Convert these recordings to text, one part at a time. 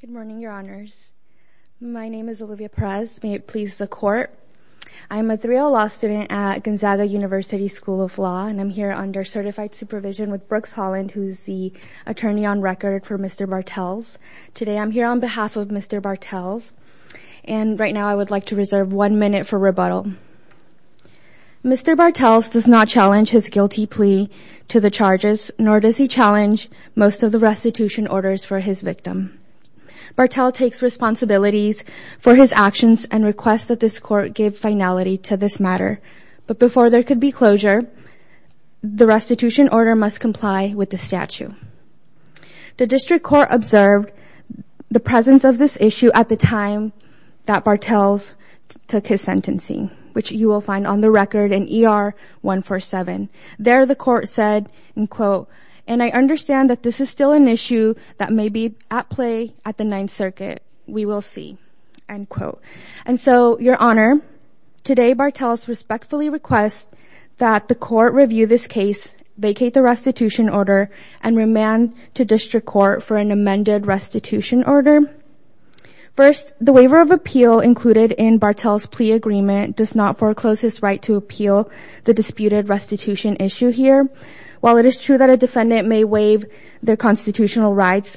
Good morning, your honors. My name is Olivia Perez. May it please the court. I'm a 3L law student at Gonzaga University School of Law, and I'm here under certified supervision with Brooks Holland, who is the attorney on record for Mr. Bartels. Today I'm here on behalf of Mr. Bartels, and right now I would like to reserve one minute for rebuttal. Mr. Bartels does not challenge his guilty plea to the charges, nor does he challenge most of the restitution orders for his victim. Bartels takes responsibilities for his actions and requests that this court give finality to this matter, but before there could be closure, the restitution order must comply with the statute. The district court observed the presence of this issue at the time that Bartels took his sentencing, which you will find on the record in ER 147. There the court said, and quote, and I understand that this is still an issue that may be at play at the Ninth Circuit, we will see, end quote. And so, your honor, today Bartels respectfully requests that the court review this case, vacate the restitution order, and remand to district court for an amended restitution order. First, the waiver of appeal included in Bartels' plea agreement does not foreclose his right to appeal the disputed restitution issue here. While it is true that a defendant may waive their constitutional rights,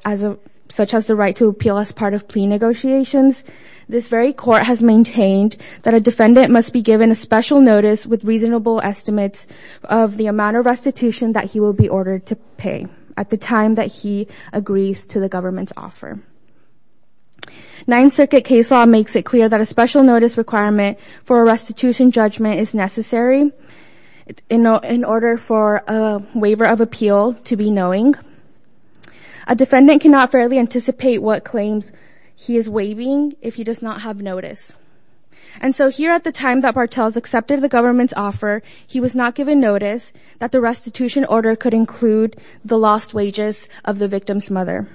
such as the right to appeal as part of plea negotiations, this very court has maintained that a defendant must be given a special notice with reasonable estimates of the amount of restitution that he will be ordered to pay at the time that he agrees to the government's offer. Ninth Circuit case law makes it clear that a special notice requirement for a restitution judgment is necessary in order for a waiver of appeal to be knowing. A defendant cannot fairly anticipate what claims he is waiving if he does not have notice. And so, here at the time that Bartels accepted the government's offer, he was not given notice that the restitution order could include the lost wages of the victim's mother,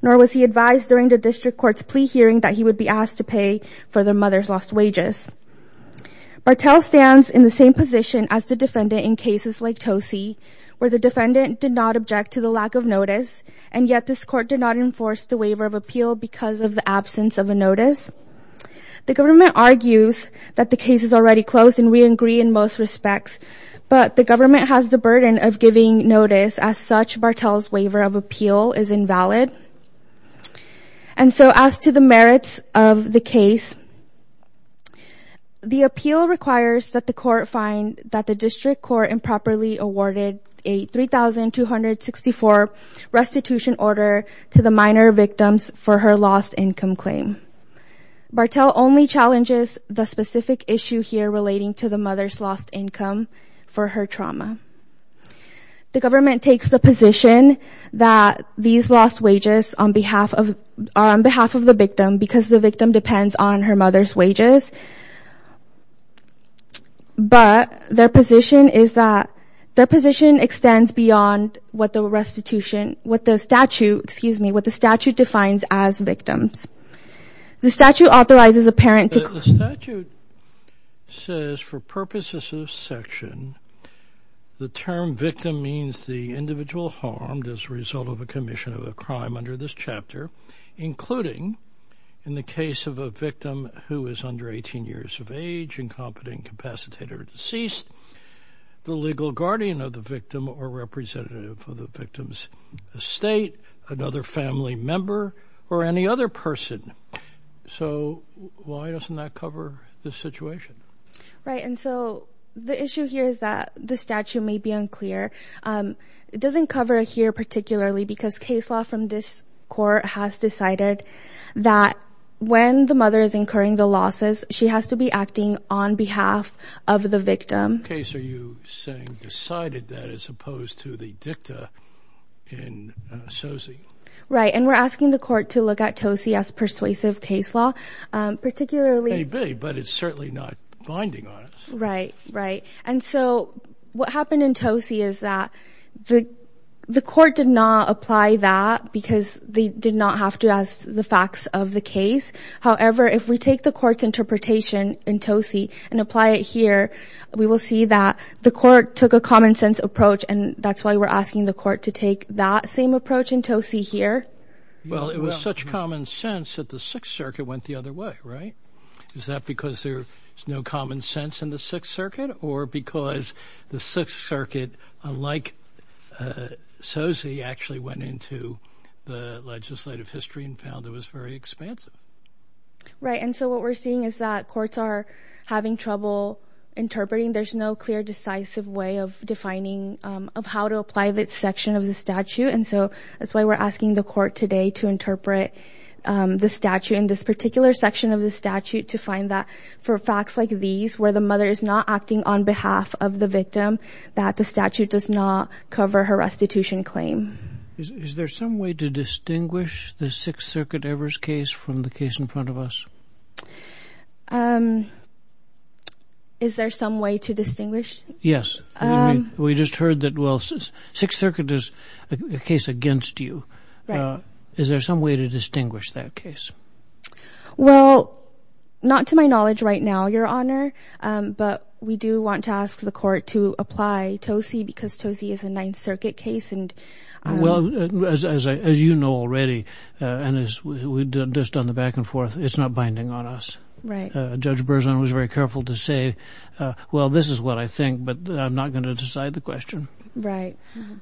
nor was he advised during the district court's plea hearing that he would be asked to pay for the mother's lost wages. Bartels stands in the same position as the defendant in cases like Tosie, where the defendant did not object to the lack of notice, and yet this court did not enforce the waiver of appeal because of the absence of a notice. The government argues that the case is already closed and we agree in most respects, but the government has the burden of giving notice. As such, Bartels waiver of appeal is invalid. And so, as to the merits of the case, the appeal requires that the court find that the district court improperly awarded a 3,264 restitution order to the minor victims for her lost income claim. Bartels only challenges the specific issue here relating to the mother's lost income for her trauma. The government takes the position that these lost wages on behalf of on behalf of the victim because the victim depends on her mother's wages, but their position is that their position extends beyond what the restitution, what the statute, excuse me, what the statute defines as victims. The statute authorizes a parent to... The statute says for purposes of section, the term victim means the individual harmed as a result of a commission of a crime under this chapter, including in the case of a victim who is under 18 years of age, incompetent, incapacitated, or deceased, the legal guardian of the victim or representative of the victim's estate, another family member, or any other person. So why doesn't that cover this situation? Right, and so the issue here is that the statute may be unclear. It doesn't cover here particularly because case law from this court has decided that when the mother is incurring the losses, she has to be acting on behalf of the victim. Okay, so you saying decided that as opposed to the dicta in TOSI. Right, and we're asking the court to look at TOSI as persuasive case law, particularly... It may be, but it's certainly not binding on us. Right, right, and so what happened in TOSI is that the court did not apply that because they did not have to ask the facts of the case. However, if we take the court's interpretation in TOSI and apply it here, we will see that the court took a common-sense approach, and that's why we're asking the court to take that same approach in TOSI here. Well, it was such common sense that the Sixth Circuit went the other way, right? Is that because there's no common sense in the Sixth Circuit or because the Sixth Circuit, unlike TOSI, actually went into the legislative history and found it was very expansive. Right, and so what we're seeing is that courts are having trouble interpreting. There's no clear, decisive way of defining of how to apply this section of the statute, and so that's why we're asking the court today to interpret the statute in this particular section of the statute to find that for facts like these, where the mother is not acting on behalf of the victim, that the statute does not cover her restitution claim. Is there some way to distinguish the Sixth Circuit Evers case from the case in front of us? Is there some way to distinguish? Yes, we just heard that Sixth Circuit is a case against you. Is there some way to distinguish that case? Well, not to my knowledge right now, Your Honor, but we do want to ask the court to apply TOSI because TOSI is a Ninth Circuit case. Well, as you know already, and as we've just done the back and forth, it's not binding on us. Judge Berzon was very careful to say, well, this is what I think, but I'm not going to decide the question. Right.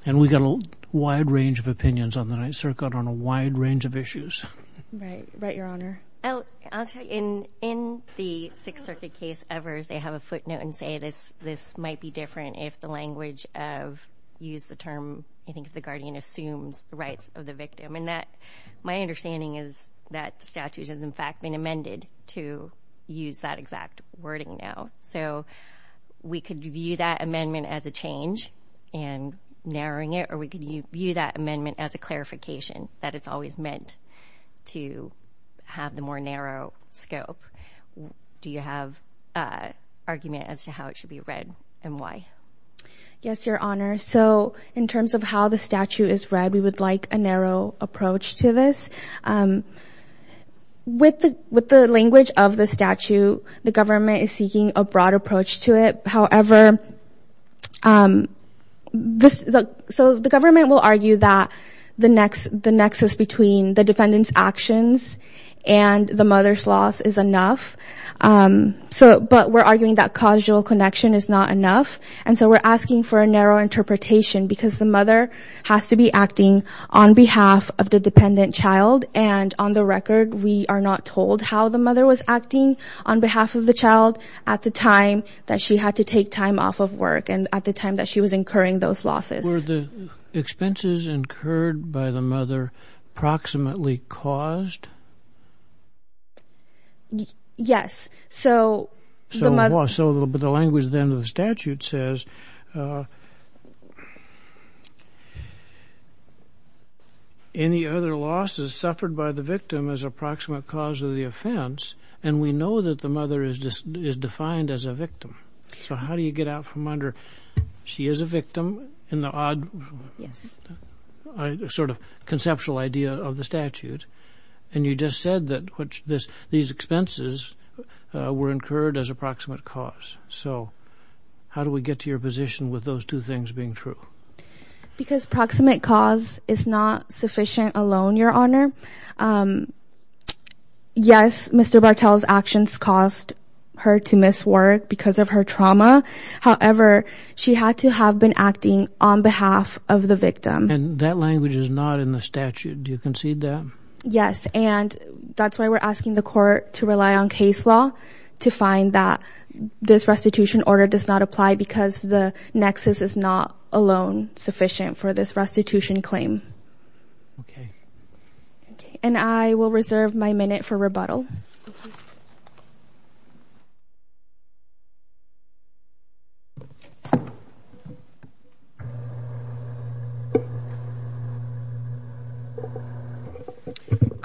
And we got a wide range of opinions on the Ninth Circuit on a wide range of issues. Right. Right, Your Honor. I'll tell you, in the Sixth Circuit case Evers, they have a footnote and say this might be different if the language of, use the term, I think, if the guardian assumes the rights of the victim. And that, my understanding is that the statute has in fact been amended to use that exact wording now. So we could view that amendment as a change and narrowing it, or we can view that amendment as a clarification that it's always meant to have the more narrow scope. Do you have an argument as to how it should be read and why? Yes, Your Honor. So with the language of the statute, the government is seeking a broad approach to it. However, this, so the government will argue that the next, the nexus between the defendant's actions and the mother's loss is enough. So, but we're arguing that causal connection is not enough. And so we're asking for a narrow interpretation because the mother has to be acting on behalf of the dependent child. And on the record, we are not told how the mother was acting on behalf of the child at the time that she had to take time off of work and at the time that she was incurring those losses. Were the expenses incurred by the mother approximately caused? Yes. So, so the language then of the statute says, any other losses suffered by the victim is approximate cause of the offense. And we know that the mother is defined as a victim. So how do you get out from under, she is a victim in the odd, sort of conceptual idea of the statute. And you just said that which this, these expenses were incurred as approximate cause. So how do we get to your position with those two things being true? Because proximate cause is not sufficient alone, Your Honor. Yes, Mr. Bartel's actions caused her to miss work because of her trauma. However, she had to have been acting on behalf of the victim. And that language is not in the statute. Do you concede that? Yes. And that's why we're asking the court to rely on case law to find that this restitution order does not apply because the nexus is not alone sufficient for this restitution claim. Okay. And I will reserve my minute for rebuttal. Good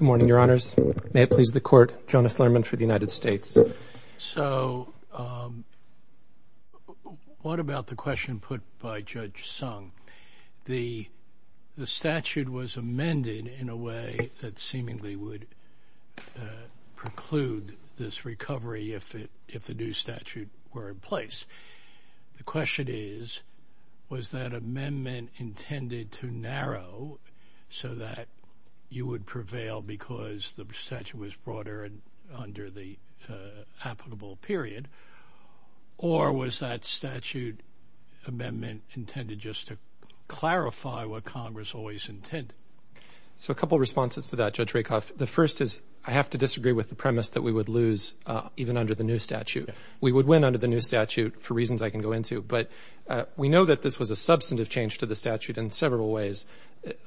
morning, Your Honors. May it please the court, Jonas Lerman for the United States. So what about the question put by Judge Sung? The statute was amended in a way that seemingly would preclude this recovery if it, if the new statute were in place. The question is, was that amendment intended to narrow so that you would prevail because the statute was broader and applicable period? Or was that statute amendment intended just to clarify what Congress always intended? So a couple of responses to that, Judge Rakoff. The first is I have to disagree with the premise that we would lose even under the new statute. We would win under the new statute for reasons I can go into. But we know that this was a substantive change to the statute in several ways.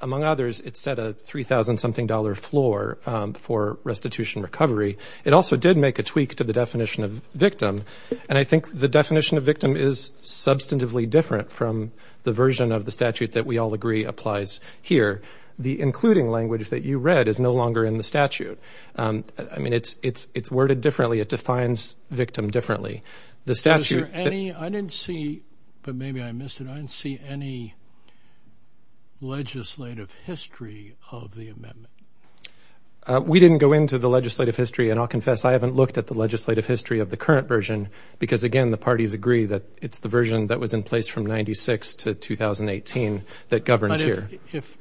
Among others, it set a $3,000 something dollar floor for restitution recovery. It also did make a tweak to the definition of victim. And I think the definition of victim is substantively different from the version of the statute that we all agree applies here. The including language that you read is no longer in the statute. I mean, it's, it's, it's worded differently. It defines victim differently. The statute... We didn't go into the legislative history and I'll confess I haven't looked at the legislative history of the current version because again, the parties agree that it's the version that was in place from 96 to 2018 that governs here. If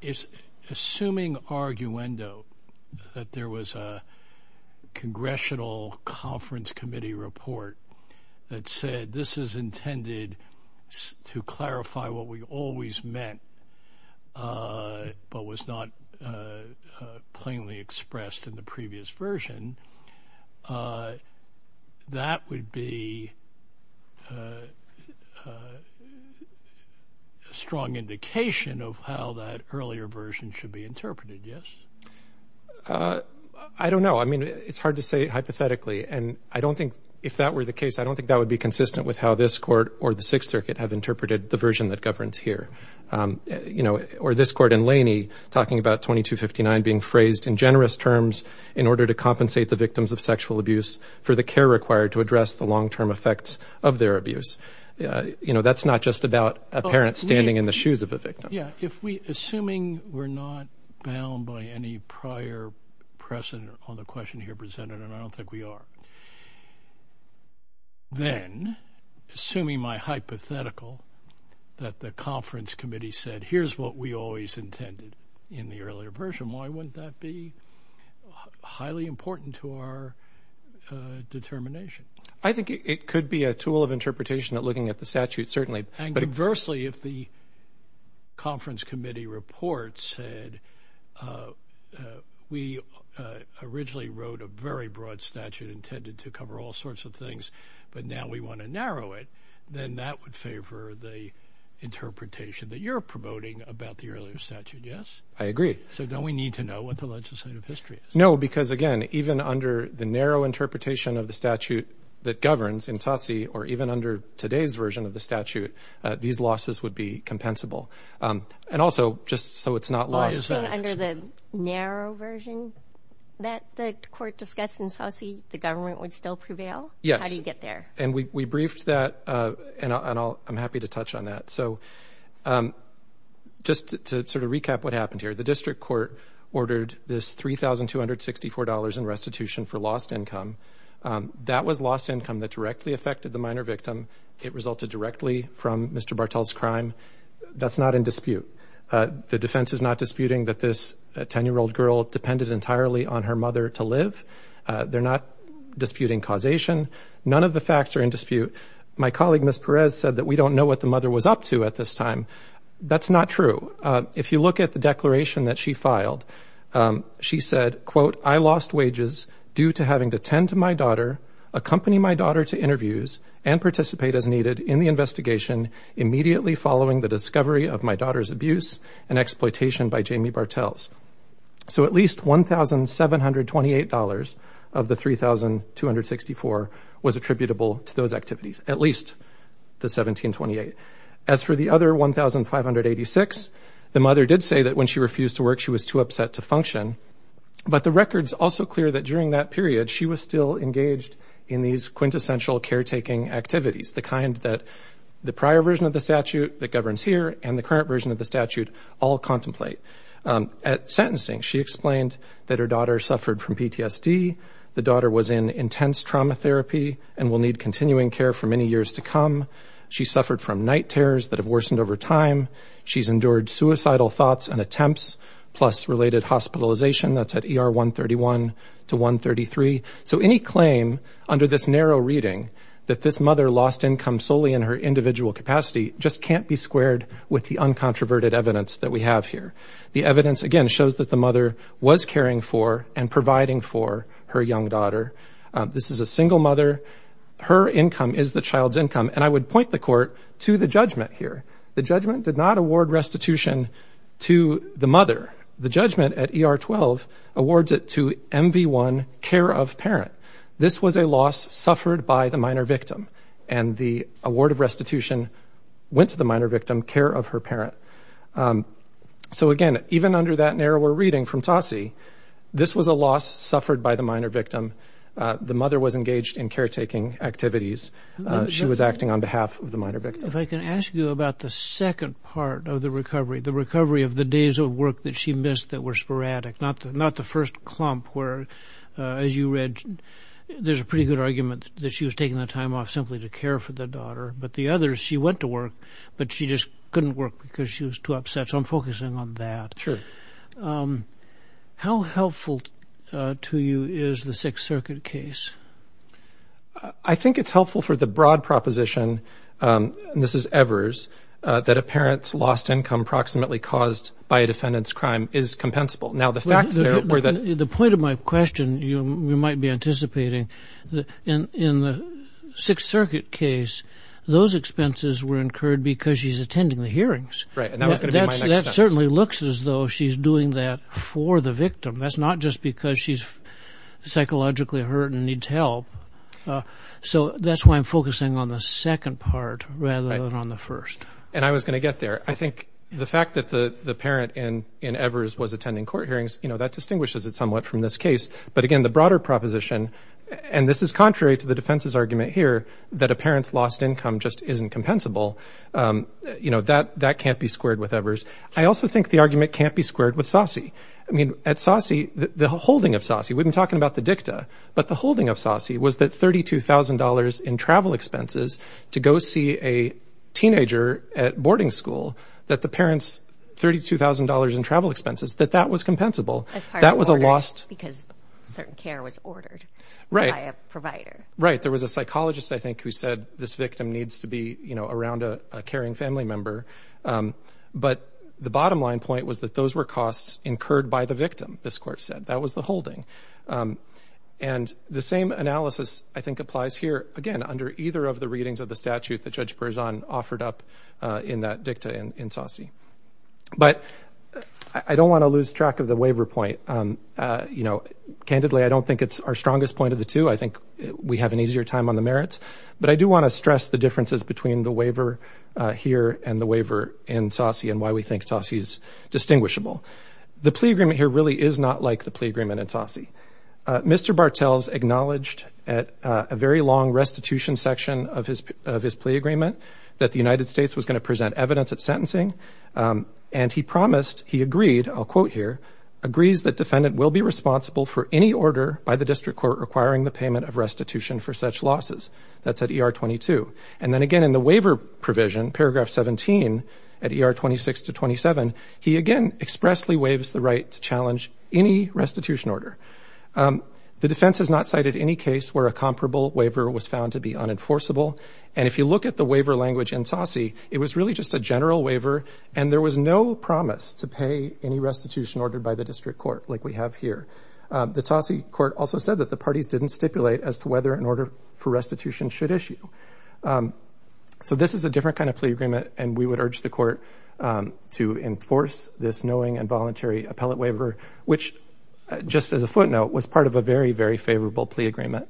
it's assuming arguendo that there was a new version of the statute that was in place but was not plainly expressed in the previous version, that would be a strong indication of how that earlier version should be interpreted. Yes? I don't know. I mean, it's hard to say hypothetically. And I don't think if that were the case, I don't talking about 2259 being phrased in generous terms in order to compensate the victims of sexual abuse for the care required to address the long-term effects of their abuse. You know, that's not just about a parent standing in the shoes of a victim. Yeah. If we, assuming we're not bound by any prior precedent on the question here presented, and I don't think we are, then assuming my hypothetical that the conference committee said, here's what we always intended in the earlier version, why wouldn't that be highly important to our determination? I think it could be a tool of interpretation at looking at the statute, certainly. And conversely, if the conference committee report said, we originally wrote a very broad statute intended to cover all I agree. So don't we need to know what the legislative history is? No, because again, even under the narrow interpretation of the statute that governs in TOTSI or even under today's version of the statute, these losses would be compensable. And also, just so it's not lost under the narrow version that the court happened here. The district court ordered this $3,264 in restitution for lost income. That was lost income that directly affected the minor victim. It resulted directly from Mr. Bartel's crime. That's not in dispute. The defense is not disputing that this 10-year-old girl depended entirely on her mother to live. They're not disputing causation. None of the facts are in dispute. My colleague, Ms. Perez, said that we don't know what the mother was up to at this time. That's not true. If you look at the declaration that she filed, she said, quote, I lost wages due to having to tend to my daughter, accompany my daughter to interviews, and participate as needed in the investigation immediately following the discovery of my daughter's abuse and So at least $1,728 of the $3,264 was attributable to those activities. At least the $1,728. As for the other $1,586, the mother did say that when she refused to work, she was too upset to function. But the record's also clear that during that period, she was still engaged in these quintessential caretaking activities, the kind that the prior version of the statute that governs here and the current version of the statute all contemplate. At sentencing, she explained that her daughter suffered from PTSD. The daughter was in intense trauma therapy and will need continuing care for many years to come. She suffered from night terrors that have worsened over time. She's endured suicidal thoughts and attempts, plus related hospitalization. That's at ER 131 to 133. So any claim under this narrow reading that this mother lost income solely in her individual capacity just can't be squared with the uncontroverted evidence that we have here. The evidence, again, shows that the mother was caring for and providing for her young daughter. This is a single mother. Her income is the child's income. And I would point the court to the judgment here. The judgment did not award restitution to the mother. The judgment at ER 12 awards it to MV1, care of parent. This was a loss suffered by the minor victim. And the award of restitution went to the minor victim, care of her parent. So, again, even under that narrower reading from Tosse, this was a loss suffered by the minor victim. The mother was engaged in caretaking activities. She was acting on behalf of the minor victim. If I can ask you about the second part of the recovery, the recovery of the days of work that she missed that were sporadic, not the first clump where, as you read, there's a pretty good argument that she was taking the time off simply to care for the daughter. But the others, she went to work, but she just couldn't work because she was too upset. So I'm focusing on that. How helpful to you is the Sixth Circuit case? I think it's helpful for the broad proposition, and this is Evers, that a parent's lost income approximately caused by a defendant's crime is compensable. The point of my question you might be anticipating, in the Sixth Circuit case, those expenses were incurred because she's attending the hearings. Right, and that was going to be my next sentence. That certainly looks as though she's doing that for the victim. That's not just because she's psychologically hurt and needs help. So that's why I'm focusing on the second part rather than on the first. And I was going to get there. I think the fact that the parent in Evers was attending court hearings, that distinguishes it somewhat from this case. But again, the broader proposition, and this is contrary to the defense's argument here, that a parent's lost income just isn't compensable. That can't be squared with SOSI. I mean, at SOSI, the holding of SOSI, we've been talking about the dicta, but the holding of SOSI was that $32,000 in travel expenses to go see a teenager at boarding school, that the parent's $32,000 in travel expenses, that that was compensable. That was a lost... Because certain care was ordered by a provider. Right. There was a psychologist, I think, who said this victim needs to be around a caring family member. But the bottom line point was that those were costs incurred by the victim, this court said. That was the holding. And the same analysis, I think, applies here, again, under either of the readings of the statute that Judge Berzon offered up in that dicta in SOSI. But I don't want to lose track of the waiver point. Candidly, I don't think it's our strongest point of the two. I think we have an easier time on the merits. But I do want to stress the differences between the waiver here and the waiver in SOSI and why we think SOSI is distinguishable. The plea agreement here really is not like the plea agreement in SOSI. Mr. Bartels acknowledged at a very long restitution section of his plea agreement that the defendant will be responsible for any order by the district court requiring the payment of restitution for such losses. That's at ER 22. And then, again, in the waiver provision, paragraph 17, at ER 26 to 27, he, again, expressly waives the right to challenge any restitution order. The defense has not cited any case where a comparable waiver was found to be unenforceable. And if you look at the waiver language in SOSI, it was really just a general waiver and a plea agreement. And there was no promise to pay any restitution order by the district court like we have here. The TASI court also said that the parties didn't stipulate as to whether an order for restitution should issue. So this is a different kind of plea agreement, and we would urge the court to enforce this knowing and voluntary appellate waiver, which, just as a footnote, was part of a very, very favorable plea agreement.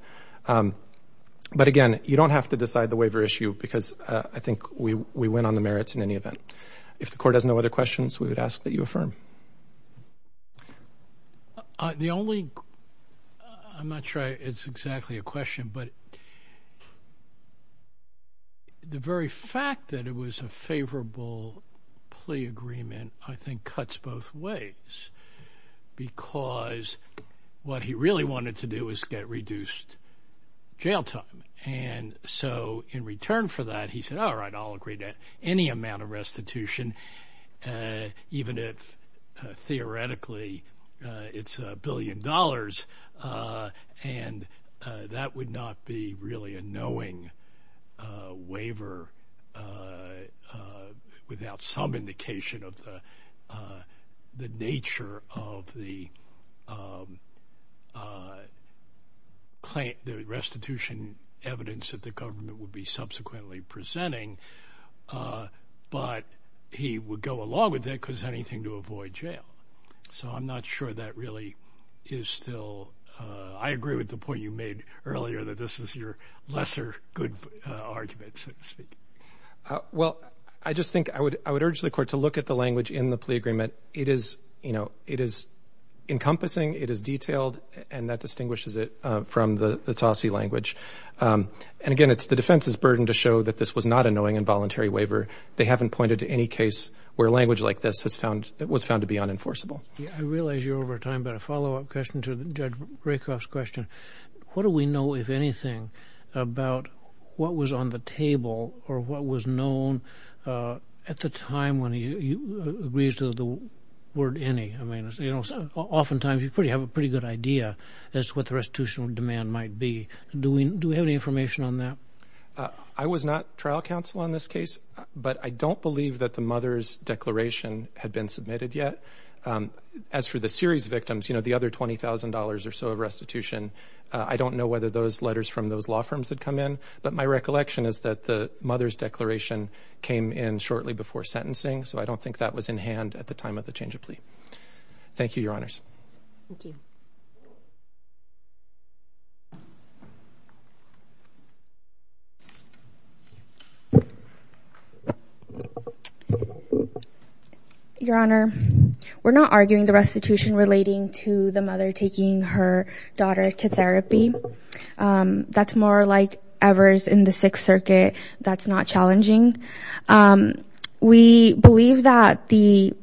But, again, you don't have to decide the waiver issue because I think we win on the merits in any event. If the court has no other questions, we would ask that you affirm. The only, I'm not sure it's exactly a question, but the very fact that it was a favorable plea agreement, I think, cuts both ways because what he really wanted to do was get reduced jail time. And so in return for that, he said, all right, I'll agree to any amount of restitution, even if, theoretically, it's a billion dollars. And that would not be really a knowing waiver without some indication of the nature of the restitution evidence that the government would be subsequently presenting. But he would go along with that because anything to avoid jail. So I'm not sure that really is still, I agree with the point you made earlier that this is your lesser good argument, so to speak. Well, I just think I would urge the court to look at the language in the plea agreement. It is, you know, it is encompassing, it is detailed, and that distinguishes it from the Tossie language. And again, it's the defense's burden to show that this was not a knowing and voluntary waiver. They haven't pointed to any case where language like this was found to be unenforceable. I realize you're over time, but a follow-up question to Judge Rakoff's question. What do we know, if anything, about what was on the table or what was known at the time when he agrees to the word any? I mean, you know, oftentimes you have a pretty good idea as to what was on the table. But you don't know just what the restitutional demand might be. Do we have any information on that? I was not trial counsel on this case, but I don't believe that the mother's declaration had been submitted yet. As for the series victims, you know, the other $20,000 or so of restitution, I don't know whether those letters from those law firms had come in. But my recollection is that the mother's declaration came in shortly before sentencing, so I don't think that was in hand at the time of the change of plea. Thank you, Your Honors. Your Honor, we're not arguing the restitution relating to the mother taking her daughter to therapy. That's more like Evers in the Sixth Circuit. That's not challenging. We believe that the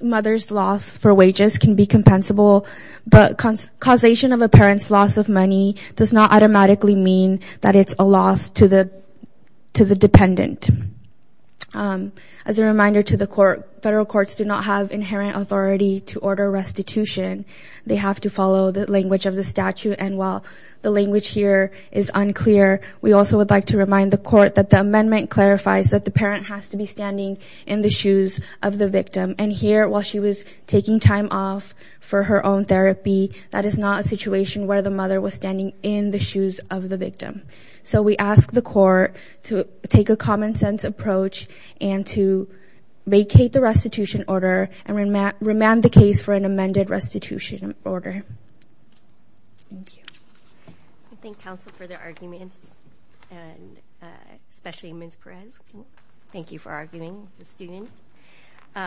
mother's loss for wages can be compensable, but causation of the mother's loss for money does not automatically mean that it's a loss to the dependent. As a reminder to the court, federal courts do not have inherent authority to order restitution. They have to follow the language of the statute, and while the language here is unclear, we also would like to remind the court that the amendment clarifies that the parent has to be standing in the shoes of the victim. And here, while she was taking time off for her own therapy, that is not a situation where the mother was standing in the shoes of the victim. So we ask the court to take a common-sense approach and to vacate the restitution order and remand the case for an amended restitution order. Thank you. I thank counsel for their arguments, and especially Ms. Perez. Thank you for arguing as a student.